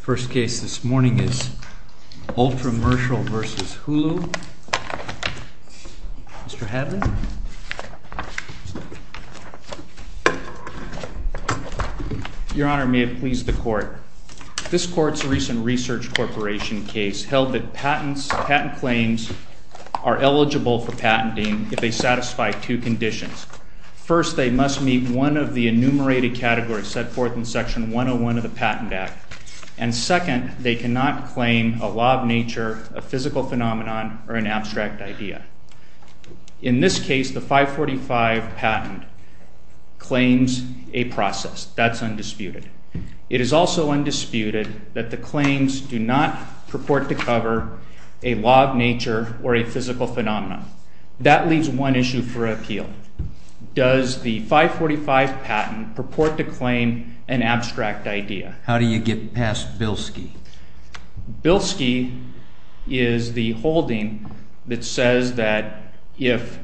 First case this morning is ULTRAMERCIAL v. HULU. Mr. Hadley? Your Honor, may it please the Court. This Court's recent Research Corporation case held that patent claims are eligible for patenting if they satisfy two conditions. First, they must meet one of the enumerated categories set forth in Section 101 of the Patent Act. And second, they cannot claim a law of nature, a physical phenomenon, or an abstract idea. In this case, the 545 patent claims a process. That's undisputed. It is also undisputed that the claims do not purport to cover a law of nature or a physical phenomenon. That leaves one issue for appeal. Does the 545 patent purport to claim an abstract idea? How do you get past Bilski? Bilski is the holding that says that if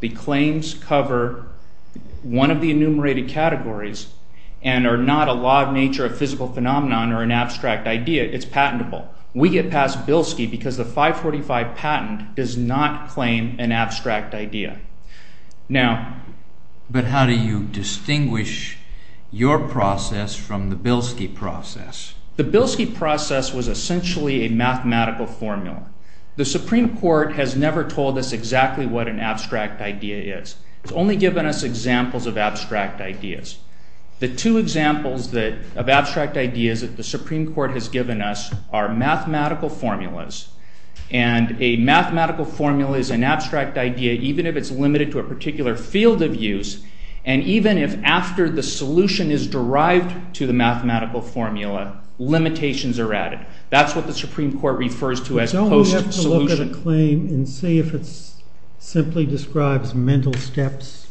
the claims cover one of the enumerated categories and are not a law of nature, a physical phenomenon, or an abstract idea, it's patentable. We get past Bilski because the 545 patent does not claim an abstract idea. But how do you distinguish your process from the Bilski process? The Bilski process was essentially a mathematical formula. The Supreme Court has never told us exactly what an abstract idea is. It's only given us examples of abstract ideas. The two examples of abstract ideas that the Supreme Court has given us are mathematical formulas. And a mathematical formula is an abstract idea even if it's limited to a particular field of use. And even if after the solution is derived to the mathematical formula, limitations are added. That's what the Supreme Court refers to as post-solution. Don't we have to look at a claim and see if it simply describes mental steps?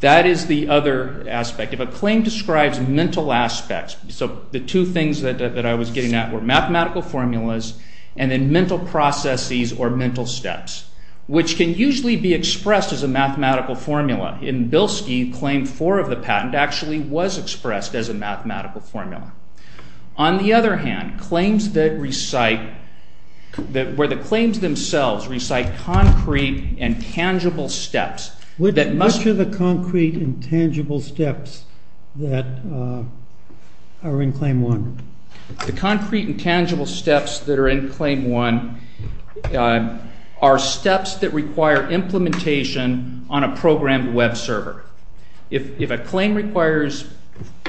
That is the other aspect. If a claim describes mental aspects, so the two things that I was getting at were mathematical formulas and then mental processes or mental steps, which can usually be expressed as a mathematical formula. In Bilski, Claim 4 of the patent actually was expressed as a mathematical formula. On the other hand, where the claims themselves recite concrete and tangible steps... Which are the concrete and tangible steps that are in Claim 1? The concrete and tangible steps that are in Claim 1 are steps that require implementation on a programmed web server. If a claim requires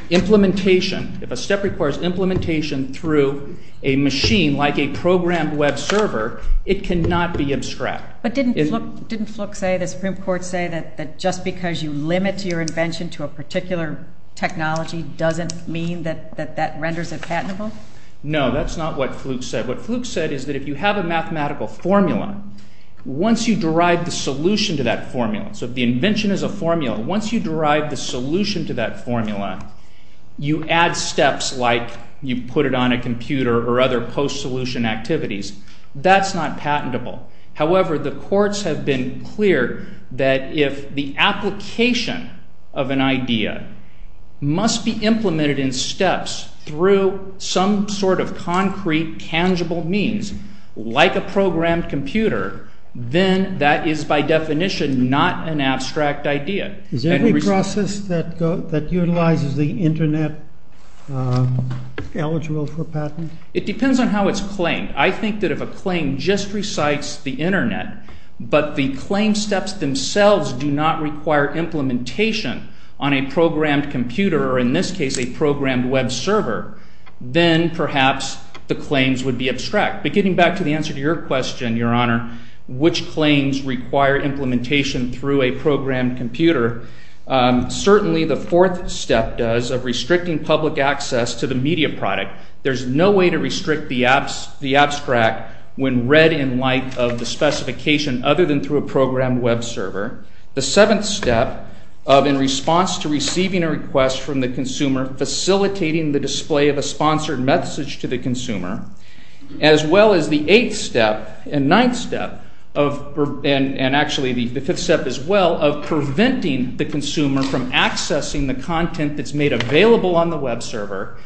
implementation, if a step requires implementation through a machine like a programmed web server, it cannot be abstract. But didn't Fluke say, the Supreme Court say, that just because you limit your invention to a particular technology doesn't mean that that renders it patentable? No, that's not what Fluke said. What Fluke said is that if you have a mathematical formula, once you derive the solution to that formula, so if the invention is a formula, once you derive the solution to that formula, you add steps like you put it on a computer or other post-solution activities. That's not patentable. However, the courts have been clear that if the application of an idea must be implemented in steps through some sort of concrete, tangible means, like a programmed computer, then that is by definition not an abstract idea. Is every process that utilizes the internet eligible for patent? It depends on how it's claimed. I think that if a claim just recites the internet, but the claim steps themselves do not require implementation on a programmed computer, or in this case, a programmed web server, then perhaps the claims would be abstract. But getting back to the answer to your question, Your Honor, which claims require implementation through a programmed computer, certainly the fourth step does of restricting public access to the media product. There's no way to restrict the abstract when read in light of the specification other than through a programmed web server. The seventh step of in response to receiving a request from the consumer, facilitating the display of a sponsored message to the consumer, as well as the eighth step and ninth step, and actually the fifth step as well, of preventing the consumer from accessing the content that's made available on the web server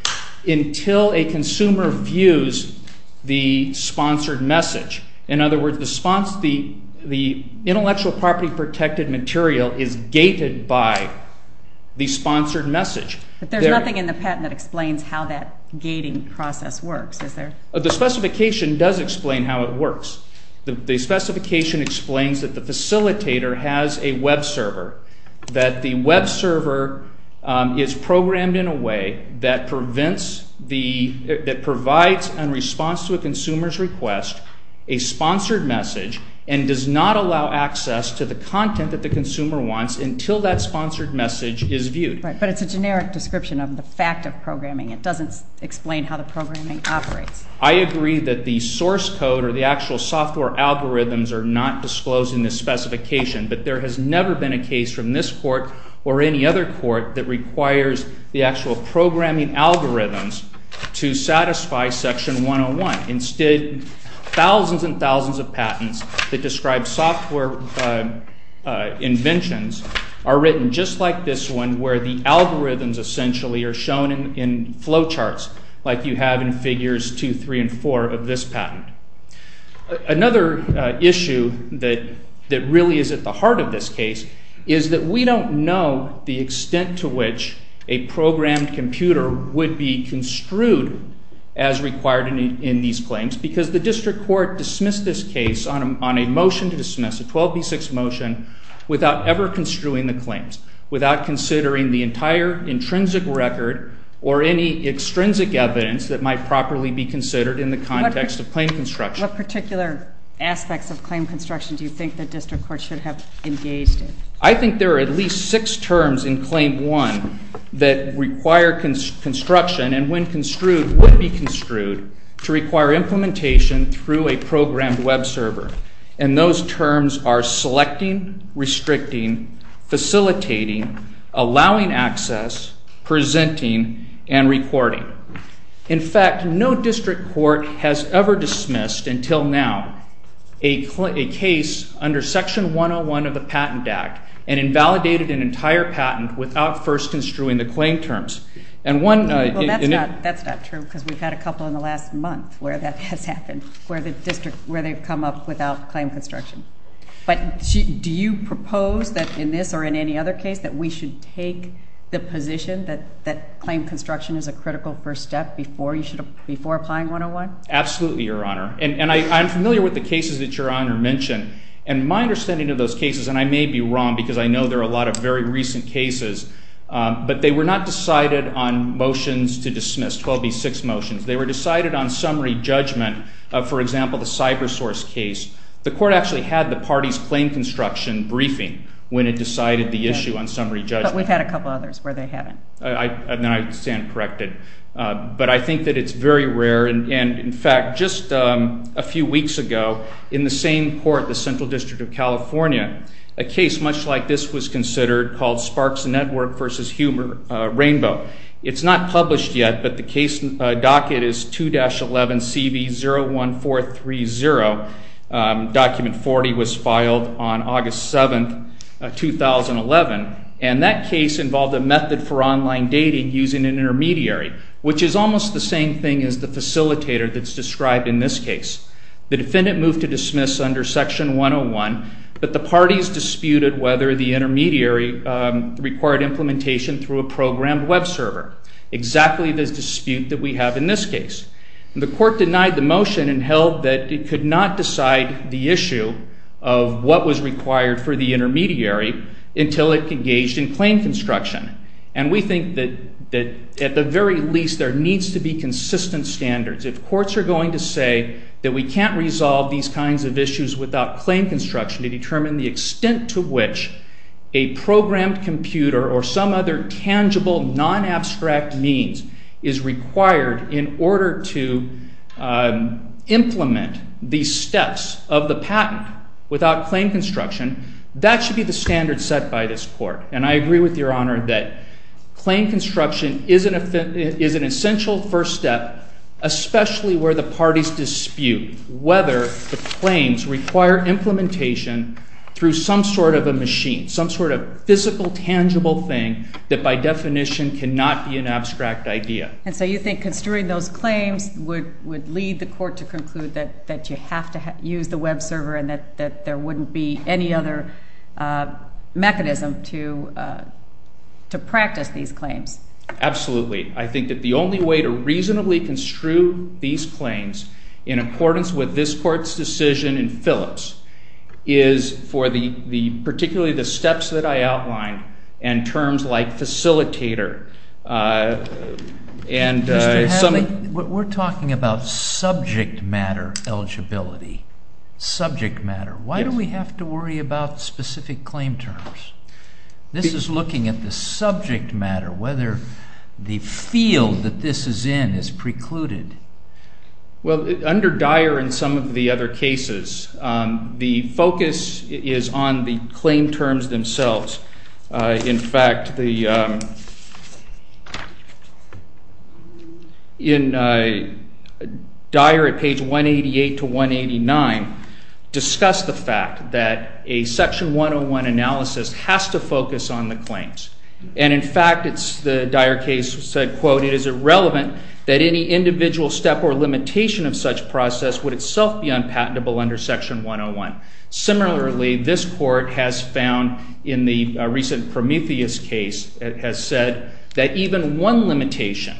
until a consumer views the sponsored message. In other words, the intellectual property protected material is gated by the sponsored message. But there's nothing in the patent that explains how that gating process works, is there? The specification does explain how it works. The specification explains that the facilitator has a web server, that the web server is programmed in a way that prevents the, that provides in response to a consumer's request a sponsored message and does not allow access to the content that the consumer wants until that sponsored message is viewed. Right, but it's a generic description of the fact of programming. It doesn't explain how the programming operates. I agree that the source code or the actual software algorithms are not disclosed in this specification, but there has never been a case from this court or any other court that requires the actual programming algorithms to satisfy Section 101. Instead, thousands and thousands of patents that describe software inventions are written just like this one where the algorithms essentially are shown in flow charts like you have in Figures 2, 3, and 4 of this patent. Another issue that really is at the heart of this case is that we don't know the extent to which a programmed computer would be construed as required in these claims because the district court dismissed this case on a motion to dismiss, a 12B6 motion, without ever construing the claims, without considering the entire intrinsic record or any extrinsic evidence that might properly be considered in the context of claim construction. What particular aspects of claim construction do you think the district court should have engaged in? I think there are at least six terms in Claim 1 that require construction and when construed would be construed to require implementation through a programmed web server, and those terms are selecting, restricting, facilitating, allowing access, presenting, and recording. In fact, no district court has ever dismissed until now a case under Section 101 of the Patent Act and invalidated an entire patent without first construing the claim terms. That's not true because we've had a couple in the last month where that has happened, where they've come up without claim construction. But do you propose that in this or in any other case that we should take the position that claim construction is a critical first step before applying 101? Absolutely, Your Honor, and I'm familiar with the cases that Your Honor mentioned and my understanding of those cases, and I may be wrong because I know there are a lot of very recent cases, but they were not decided on motions to dismiss, 12B6 motions. They were decided on summary judgment, for example, the CyberSource case. The court actually had the party's claim construction briefing when it decided the issue on summary judgment. But we've had a couple others where they haven't. And I stand corrected. But I think that it's very rare, and in fact, just a few weeks ago in the same court, the Central District of California, a case much like this was considered called Sparks Network v. Humor Rainbow. It's not published yet, but the case docket is 2-11CB01430. Document 40 was filed on August 7, 2011, and that case involved a method for online dating using an intermediary, which is almost the same thing as the facilitator that's described in this case. The defendant moved to dismiss under Section 101, but the parties disputed whether the intermediary required implementation through a programmed web server, exactly this dispute that we have in this case. The court denied the motion and held that it could not decide the issue of what was required for the intermediary until it engaged in claim construction. And we think that at the very least there needs to be consistent standards. If courts are going to say that we can't resolve these kinds of issues without claim construction to determine the extent to which a programmed computer or some other tangible, non-abstract means is required in order to implement these steps of the patent without claim construction, that should be the standard set by this court. And I agree with Your Honor that claim construction is an essential first step, especially where the parties dispute whether the claims require implementation through some sort of a machine, some sort of physical, tangible thing that by definition cannot be an abstract idea. And so you think construing those claims would lead the court to conclude that you have to use the web server and that there wouldn't be any other mechanism to practice these claims? Absolutely. I think that the only way to reasonably construe these claims in accordance with this court's decision in Phillips is for particularly the steps that I outlined and terms like facilitator. Mr. Hadley, we're talking about subject matter eligibility, subject matter. Why do we have to worry about specific claim terms? This is looking at the subject matter, whether the field that this is in is precluded. Well, under Dyer and some of the other cases, the focus is on the claim terms themselves. In fact, Dyer at page 188 to 189 discussed the fact that a Section 101 analysis has to focus on the claims. And in fact, the Dyer case said, quote, it is irrelevant that any individual step or limitation of such process would itself be unpatentable under Section 101. Similarly, this court has found in the recent Prometheus case, it has said that even one limitation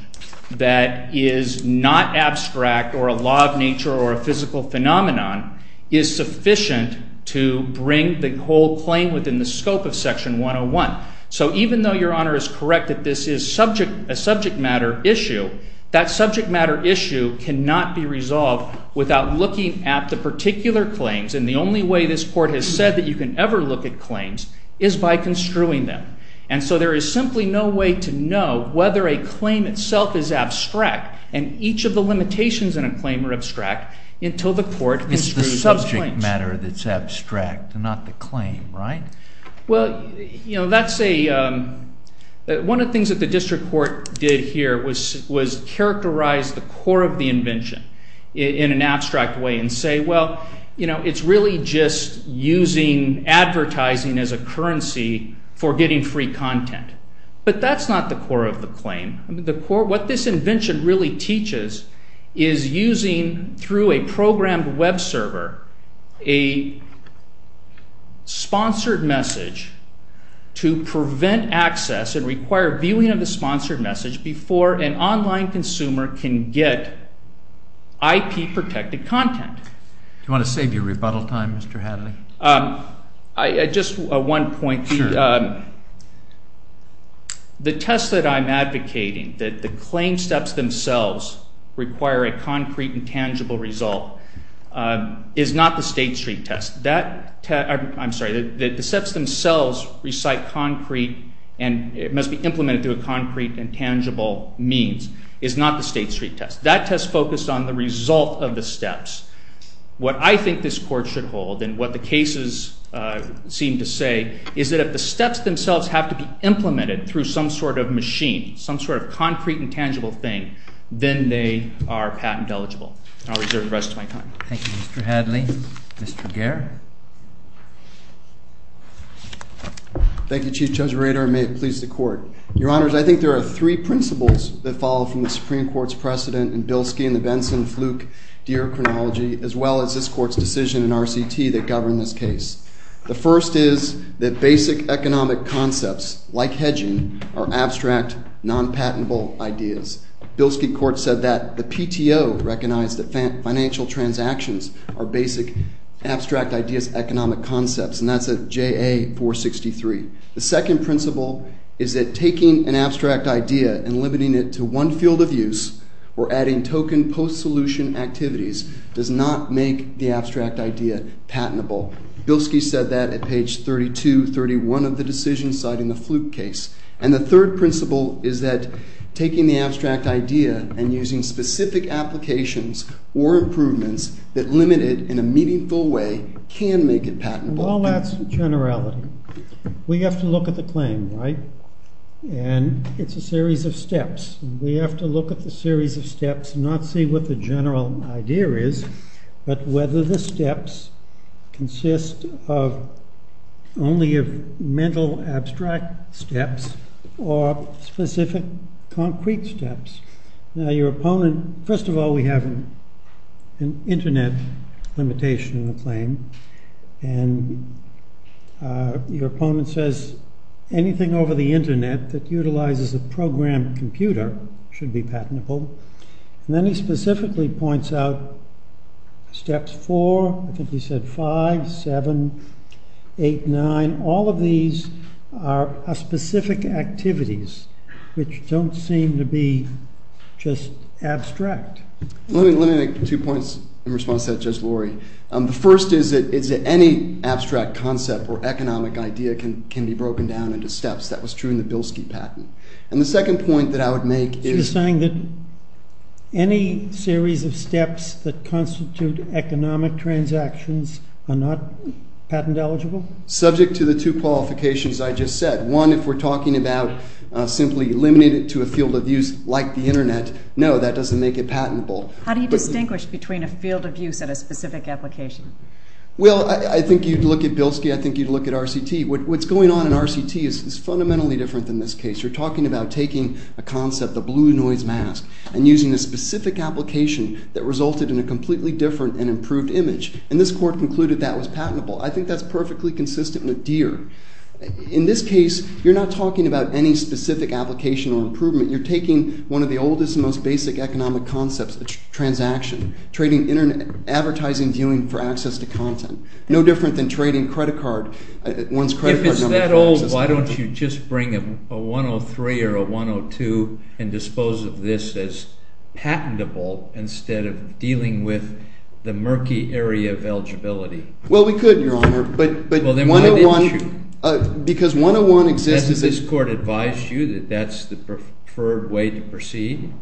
that is not abstract or a law of nature or a physical phenomenon is sufficient to bring the whole claim within the scope of Section 101. So even though Your Honor is correct that this is a subject matter issue, that subject matter issue cannot be resolved without looking at the particular claims. And the only way this court has said that you can ever look at claims is by construing them. And so there is simply no way to know whether a claim itself is abstract and each of the limitations in a claim are abstract until the court construes those claims. It's the subject matter that's abstract and not the claim, right? Well, you know, that's a—one of the things that the district court did here was characterize the core of the invention in an abstract way and say, well, you know, it's really just using advertising as a currency for getting free content. But that's not the core of the claim. What this invention really teaches is using, through a programmed web server, a sponsored message to prevent access and require viewing of the sponsored message before an online consumer can get IP-protected content. Do you want to save your rebuttal time, Mr. Hadley? Just one point. The test that I'm advocating, that the claim steps themselves require a concrete and tangible result, is not the State Street test. That—I'm sorry, the steps themselves recite concrete and it must be implemented through a concrete and tangible means is not the State Street test. That test focused on the result of the steps. What I think this court should hold, and what the cases seem to say, is that if the steps themselves have to be implemented through some sort of machine, some sort of concrete and tangible thing, then they are patent eligible. I'll reserve the rest of my time. Thank you, Mr. Hadley. Mr. Gehr? Thank you, Chief Judge Rader. May it please the Court. Your Honors, I think there are three principles that follow from the Supreme Court's precedent in Bilski and the Benson, Fluke, Deere chronology, as well as this Court's decision in RCT that govern this case. The first is that basic economic concepts, like hedging, are abstract, non-patentable ideas. Bilski Court said that. The PTO recognized that financial transactions are basic abstract ideas, economic concepts, and that's at JA 463. The second principle is that taking an abstract idea and limiting it to one field of use or adding token post-solution activities does not make the abstract idea patentable. Bilski said that at page 3231 of the decision citing the Fluke case. And the third principle is that taking the abstract idea and using specific applications or improvements that limit it in a meaningful way can make it patentable. So all that's generality. We have to look at the claim, right? And it's a series of steps. We have to look at the series of steps, not see what the general idea is, but whether the steps consist only of mental abstract steps or specific concrete steps. First of all, we have an internet limitation in the claim. And your opponent says anything over the internet that utilizes a programmed computer should be patentable. And then he specifically points out steps 4, I think he said 5, 7, 8, 9. And all of these are specific activities which don't seem to be just abstract. Let me make two points in response to that, Judge Lurie. The first is that any abstract concept or economic idea can be broken down into steps. That was true in the Bilski patent. And the second point that I would make is… Is he saying that any series of steps that constitute economic transactions are not patent eligible? Subject to the two qualifications I just said. One, if we're talking about simply eliminating it to a field of use like the internet, no, that doesn't make it patentable. How do you distinguish between a field of use and a specific application? Well, I think you'd look at Bilski. I think you'd look at RCT. What's going on in RCT is fundamentally different than this case. You're talking about taking a concept, the blue noise mask, and using a specific application that resulted in a completely different and improved image. And this court concluded that was patentable. I think that's perfectly consistent with Deere. In this case, you're not talking about any specific application or improvement. You're taking one of the oldest and most basic economic concepts, a transaction, trading internet, advertising, viewing for access to content. No different than trading credit card. If it's that old, why don't you just bring a 103 or a 102 and dispose of this as patentable instead of dealing with the murky area of eligibility? Well, we could, Your Honor. But 101, because 101 exists. Does this court advise you that that's the preferred way to proceed?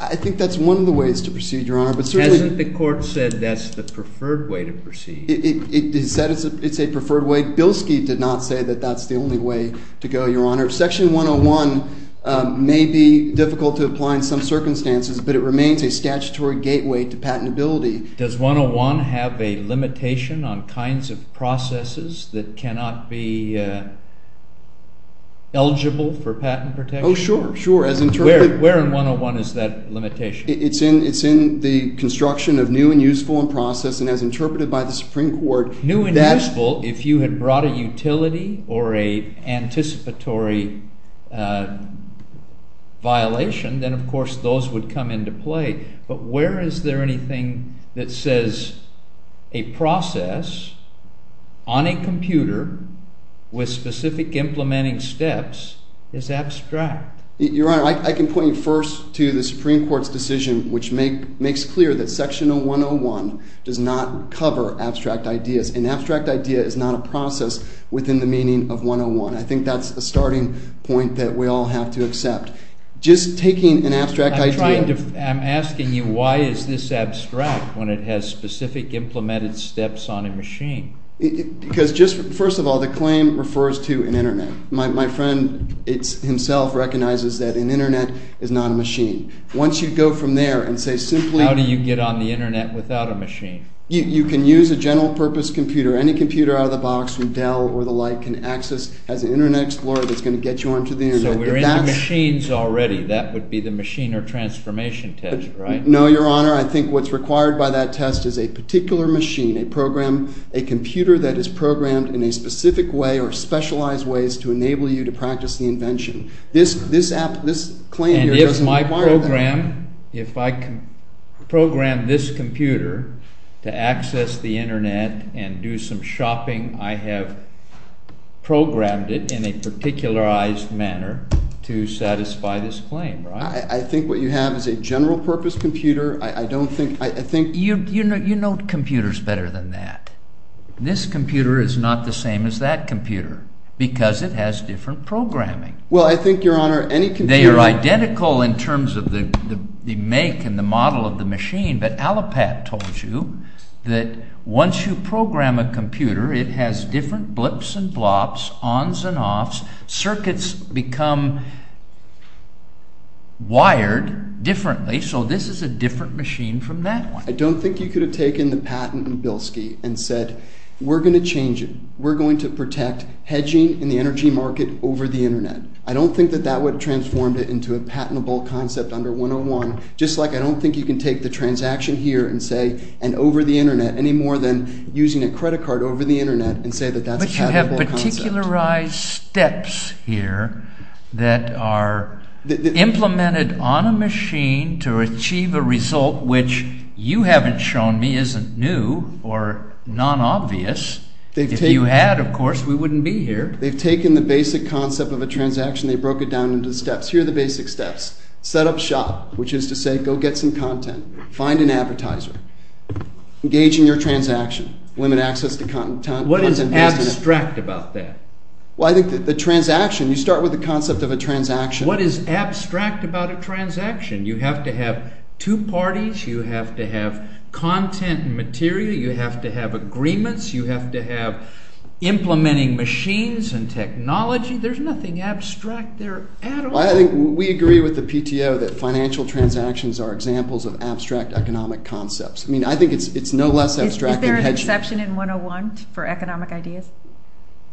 I think that's one of the ways to proceed, Your Honor. Hasn't the court said that's the preferred way to proceed? It said it's a preferred way. Bilski did not say that that's the only way to go, Your Honor. Section 101 may be difficult to apply in some circumstances, but it remains a statutory gateway to patentability. Does 101 have a limitation on kinds of processes that cannot be eligible for patent protection? Oh, sure, sure. Where in 101 is that limitation? It's in the construction of new and useful in process and as interpreted by the Supreme Court. New and useful, if you had brought a utility or a anticipatory violation, then, of course, those would come into play. But where is there anything that says a process on a computer with specific implementing steps is abstract? Your Honor, I can point you first to the Supreme Court's decision, which makes clear that Section 101 does not cover abstract ideas. An abstract idea is not a process within the meaning of 101. I think that's a starting point that we all have to accept. I'm asking you why is this abstract when it has specific implemented steps on a machine? Because, first of all, the claim refers to an Internet. My friend himself recognizes that an Internet is not a machine. How do you get on the Internet without a machine? You can use a general purpose computer. Any computer out of the box from Dell or the like has an Internet Explorer that's going to get you onto the Internet. So we're into machines already. That would be the machine or transformation test, right? No, Your Honor. I think what's required by that test is a particular machine, a program, a computer that is programmed in a specific way or specialized ways to enable you to practice the invention. This claim here doesn't require that. And if I program this computer to access the Internet and do some shopping, I have programmed it in a particularized manner to satisfy this claim, right? I think what you have is a general purpose computer. I don't think – I think – You know computers better than that. This computer is not the same as that computer because it has different programming. Well, I think, Your Honor, any computer – They are identical in terms of the make and the model of the machine. But Allopat told you that once you program a computer, it has different blips and blops, ons and offs. Circuits become wired differently. So this is a different machine from that one. I don't think you could have taken the patent in Bilski and said, We're going to change it. We're going to protect hedging in the energy market over the Internet. I don't think that that would have transformed it into a patentable concept under 101, just like I don't think you can take the transaction here and say – and over the Internet any more than using a credit card over the Internet and say that that's a patentable concept. But you have particularized steps here that are implemented on a machine to achieve a result which you haven't shown me isn't new or non-obvious. If you had, of course, we wouldn't be here. They've taken the basic concept of a transaction. They broke it down into steps. Here are the basic steps. Set up shop, which is to say go get some content. Find an advertiser. Engage in your transaction. Limit access to content. What is abstract about that? Well, I think the transaction, you start with the concept of a transaction. What is abstract about a transaction? You have to have two parties. You have to have content and material. You have to have agreements. You have to have implementing machines and technology. There's nothing abstract there at all. Well, I think we agree with the PTO that financial transactions are examples of abstract economic concepts. I mean, I think it's no less abstract than hedging. Is there an exception in 101 for economic ideas?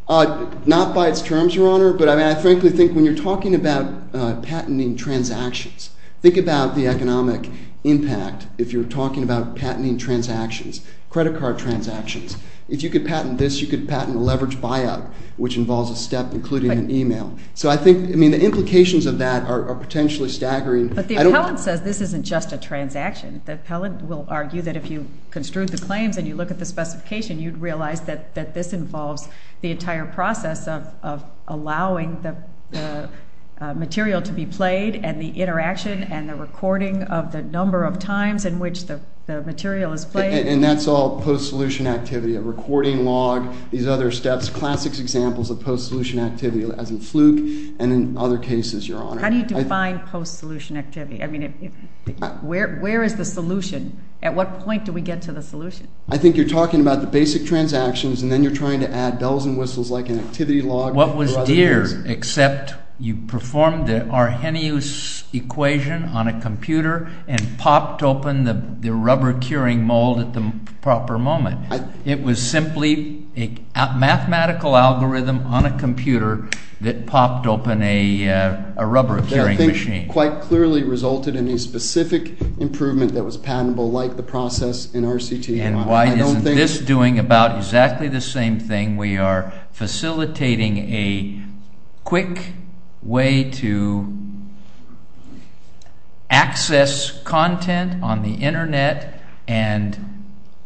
Not by its terms, Your Honor, but I mean, I frankly think when you're talking about patenting transactions, think about the economic impact if you're talking about patenting transactions, credit card transactions. If you could patent this, you could patent a leveraged buyout, which involves a step including an email. So I think, I mean, the implications of that are potentially staggering. But the appellant says this isn't just a transaction. The appellant will argue that if you construed the claims and you look at the specification, you'd realize that this involves the entire process of allowing the material to be played and the interaction and the recording of the number of times in which the material is played. And that's all post-solution activity, a recording log, these other steps, classic examples of post-solution activity as in fluke and in other cases, Your Honor. How do you define post-solution activity? I mean, where is the solution? At what point do we get to the solution? I think you're talking about the basic transactions and then you're trying to add bells and whistles like an activity log. What was dear except you performed the Arrhenius equation on a computer and popped open the rubber curing mold at the proper moment. It was simply a mathematical algorithm on a computer that popped open a rubber curing machine. Quite clearly resulted in a specific improvement that was patentable like the process in RCT. And why isn't this doing about exactly the same thing? We are facilitating a quick way to access content on the Internet and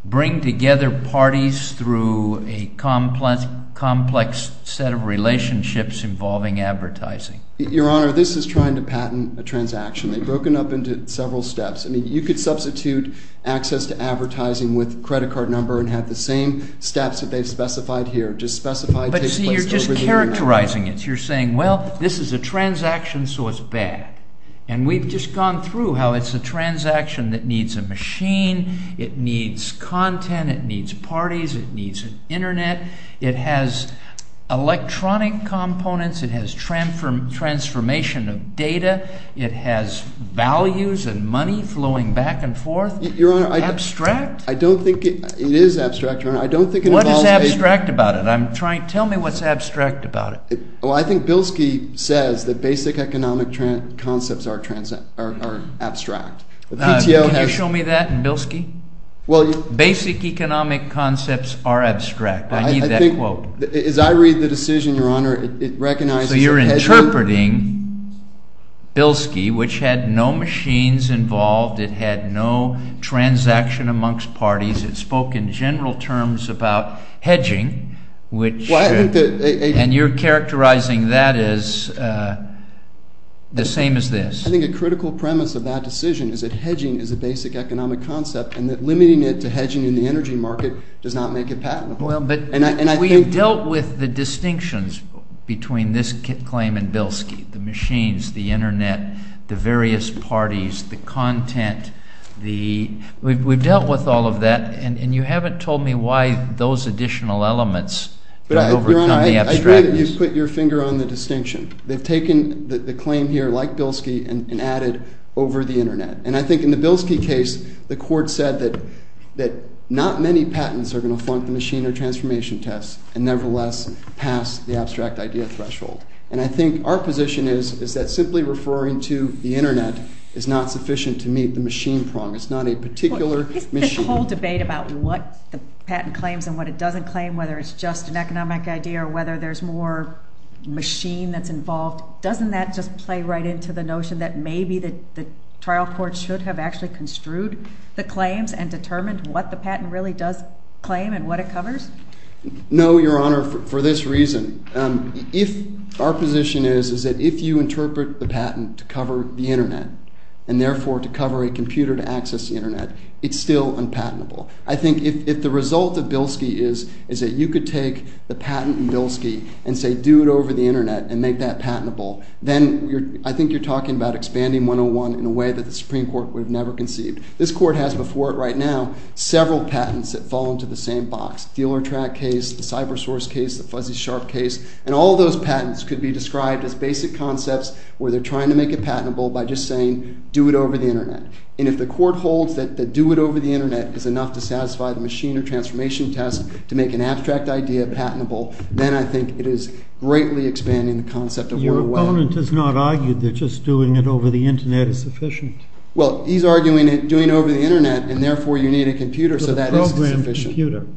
bring together parties through a complex set of relationships involving advertising. Your Honor, this is trying to patent a transaction. They've broken up into several steps. I mean, you could substitute access to advertising with credit card number and have the same steps that they've specified here. But see, you're just characterizing it. You're saying, well, this is a transaction, so it's bad. And we've just gone through how it's a transaction that needs a machine. It needs content. It needs parties. It needs an Internet. It has electronic components. It has transformation of data. It has values and money flowing back and forth. Abstract? I don't think it is abstract, Your Honor. What is abstract about it? Tell me what's abstract about it. Well, I think Bilski says that basic economic concepts are abstract. Can you show me that in Bilski? Basic economic concepts are abstract. I need that quote. As I read the decision, Your Honor, it recognizes hedging. So you're interpreting Bilski, which had no machines involved. It had no transaction amongst parties. It spoke in general terms about hedging. And you're characterizing that as the same as this. I think a critical premise of that decision is that hedging is a basic economic concept and that limiting it to hedging in the energy market does not make it patentable. We've dealt with the distinctions between this claim and Bilski, the machines, the Internet, the various parties, the content. We've dealt with all of that. And you haven't told me why those additional elements don't overcome the abstractness. Your Honor, I agree that you've put your finger on the distinction. They've taken the claim here, like Bilski, and added over the Internet. And I think in the Bilski case, the court said that not many patents are going to flunk the machine or transformation test and nevertheless pass the abstract idea threshold. And I think our position is that simply referring to the Internet is not sufficient to meet the machine prong. It's not a particular machine. There's a whole debate about what the patent claims and what it doesn't claim, whether it's just an economic idea or whether there's more machine that's involved. Doesn't that just play right into the notion that maybe the trial court should have actually construed the claims and determined what the patent really does claim and what it covers? No, Your Honor, for this reason. Our position is that if you interpret the patent to cover the Internet and therefore to cover a computer to access the Internet, it's still unpatentable. I think if the result of Bilski is that you could take the patent in Bilski and say do it over the Internet and make that patentable, then I think you're talking about expanding 101 in a way that the Supreme Court would have never conceived. This court has before it right now several patents that fall into the same box, dealer track case, the cyber source case, the fuzzy sharp case, and all those patents could be described as basic concepts where they're trying to make it patentable by just saying do it over the Internet. And if the court holds that the do it over the Internet is enough to satisfy the machine or transformation test to make an abstract idea patentable, then I think it is greatly expanding the concept of 101. Your opponent has not argued that just doing it over the Internet is sufficient. Well, he's arguing doing it over the Internet and therefore you need a computer so that is sufficient.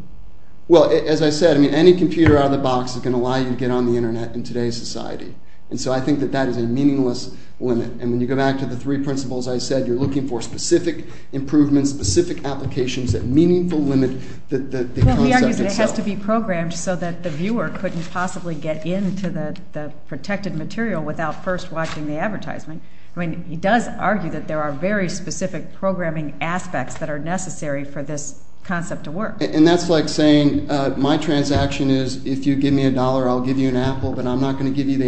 Well, as I said, any computer out of the box is going to allow you to get on the Internet in today's society. And so I think that that is a meaningless limit. And when you go back to the three principles I said, you're looking for specific improvements, specific applications that meaningful limit the concept itself. Well, he argues it has to be programmed so that the viewer couldn't possibly get into the protected material without first watching the advertisement. I mean, he does argue that there are very specific programming aspects that are necessary for this concept to work. And that's like saying my transaction is if you give me a dollar, I'll give you an apple, but I'm not going to give you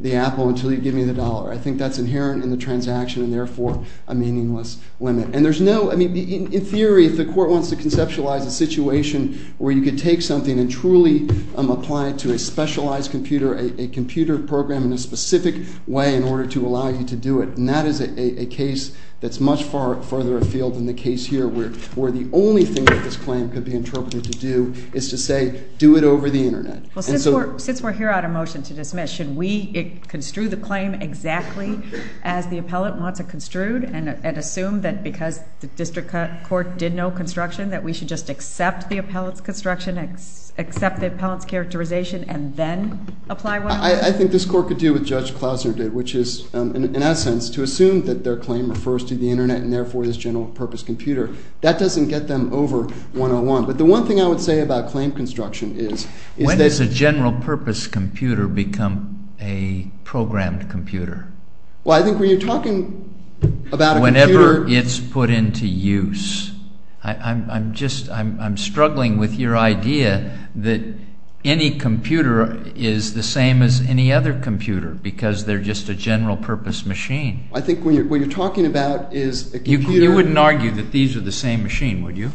the apple until you give me the dollar. I think that's inherent in the transaction and therefore a meaningless limit. And there's no, I mean, in theory, if the court wants to conceptualize a situation where you could take something and truly apply it to a specialized computer, a computer program in a specific way in order to allow you to do it, and that is a case that's much farther afield than the case here where the only thing that this claim could be interpreted to do is to say do it over the Internet. Well, since we're here on a motion to dismiss, should we construe the claim exactly as the appellant wants it construed and assume that because the district court did no construction that we should just accept the appellant's construction, accept the appellant's characterization, and then apply 101? I think this court could do what Judge Klausner did, which is, in essence, to assume that their claim refers to the Internet and therefore this general purpose computer. That doesn't get them over 101. But the one thing I would say about claim construction is that... When does a general purpose computer become a programmed computer? Well, I think when you're talking about a computer... Whenever it's put into use. I'm just, I'm struggling with your idea that any computer is the same as any other computer because they're just a general purpose machine. I think what you're talking about is a computer... You wouldn't argue that these are the same machine, would you?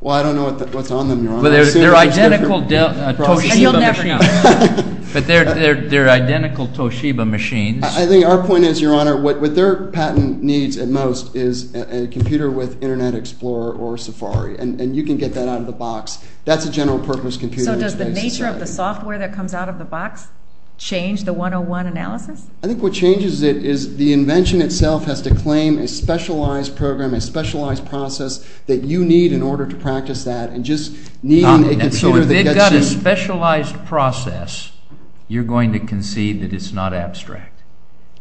Well, I don't know what's on them, Your Honor. They're identical Toshiba machines. But they're identical Toshiba machines. I think our point is, Your Honor, what their patent needs at most is a computer with Internet Explorer or Safari, and you can get that out of the box. That's a general purpose computer. So does the nature of the software that comes out of the box change the 101 analysis? I think what changes it is the invention itself has to claim a specialized program, a specialized process that you need in order to practice that and just need a computer that gets in... So if they've got a specialized process, you're going to concede that it's not abstract.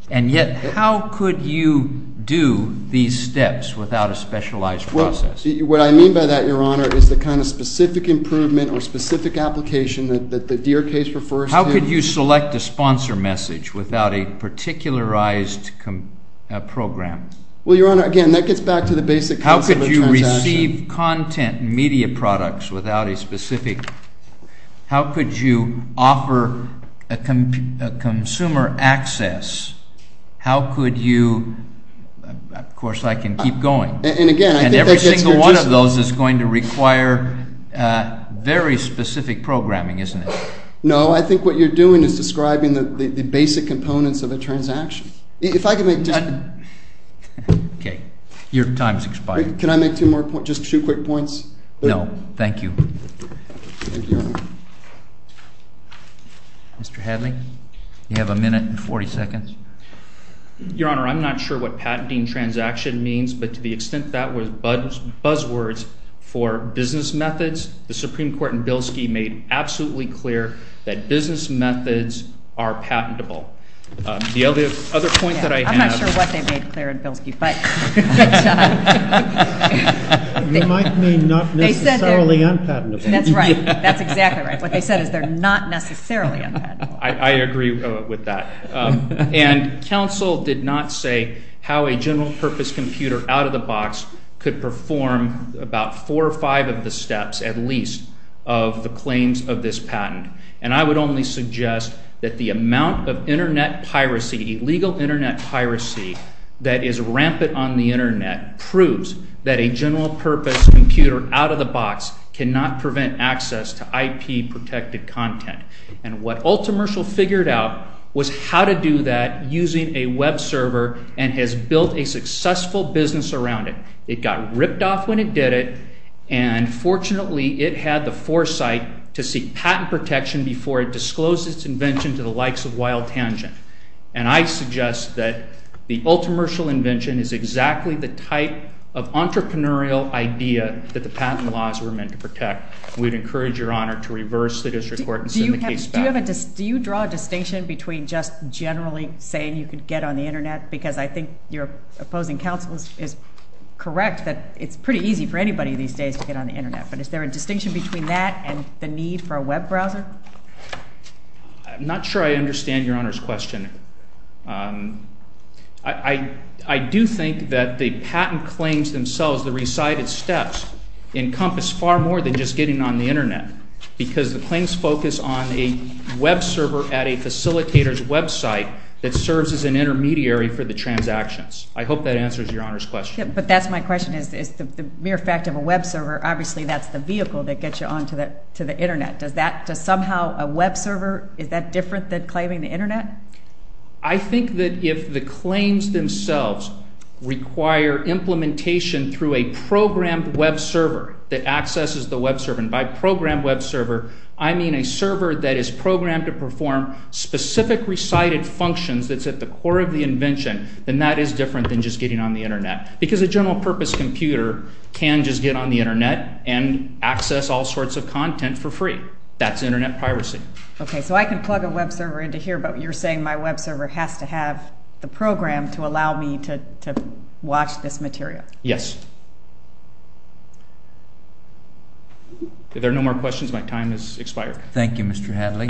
And yet how could you do these steps without a specialized process? What I mean by that, Your Honor, is the kind of specific improvement or specific application that the Deere case refers to. How could you select a sponsor message without a particularized program? Well, Your Honor, again, that gets back to the basic concept of transaction. How could you receive content media products without a specific? How could you offer a consumer access? How could you? Of course, I can keep going. And, again, I think that gets your distance. And every single one of those is going to require very specific programming, isn't it? No, I think what you're doing is describing the basic components of a transaction. If I could make just... Okay. Your time has expired. Can I make two more points, just two quick points? No. Thank you. Thank you, Your Honor. Mr. Hadley, you have a minute and 40 seconds. Your Honor, I'm not sure what patenting transaction means, but to the extent that was buzzwords for business methods, the Supreme Court in Bilski made absolutely clear that business methods are patentable. The other point that I have... I'm not sure what they made clear in Bilski, but... You might mean not necessarily unpatentable. That's right. That's exactly right. What they said is they're not necessarily unpatentable. I agree with that. And counsel did not say how a general purpose computer out of the box could perform about four or five of the steps, at least, of the claims of this patent. And I would only suggest that the amount of Internet piracy, illegal Internet piracy that is rampant on the Internet, proves that a general purpose computer out of the box cannot prevent access to IP-protected content. And what Ultimertial figured out was how to do that using a web server and has built a successful business around it. It got ripped off when it did it, and fortunately, it had the foresight to seek patent protection before it disclosed its invention to the likes of Wild Tangent. And I suggest that the Ultimertial invention is exactly the type of entrepreneurial idea that the patent laws were meant to protect. We'd encourage Your Honor to reverse the district court and send the case back. Do you draw a distinction between just generally saying you could get on the Internet? Because I think your opposing counsel is correct that it's pretty easy for anybody these days to get on the Internet. But is there a distinction between that and the need for a web browser? I'm not sure I understand Your Honor's question. I do think that the patent claims themselves, the recited steps, encompass far more than just getting on the Internet because the claims focus on a web server at a facilitator's website that serves as an intermediary for the transactions. I hope that answers Your Honor's question. But that's my question, is the mere fact of a web server, obviously that's the vehicle that gets you on to the Internet. Does somehow a web server, is that different than claiming the Internet? I think that if the claims themselves require implementation through a programmed web server that accesses the web server, and by programmed web server I mean a server that is programmed to perform specific recited functions that's at the core of the invention, then that is different than just getting on the Internet. Because a general purpose computer can just get on the Internet and access all sorts of content for free. That's Internet piracy. Okay, so I can plug a web server into here, but you're saying my web server has to have the program to allow me to watch this material. Yes. If there are no more questions, my time has expired. Thank you, Mr. Hadley.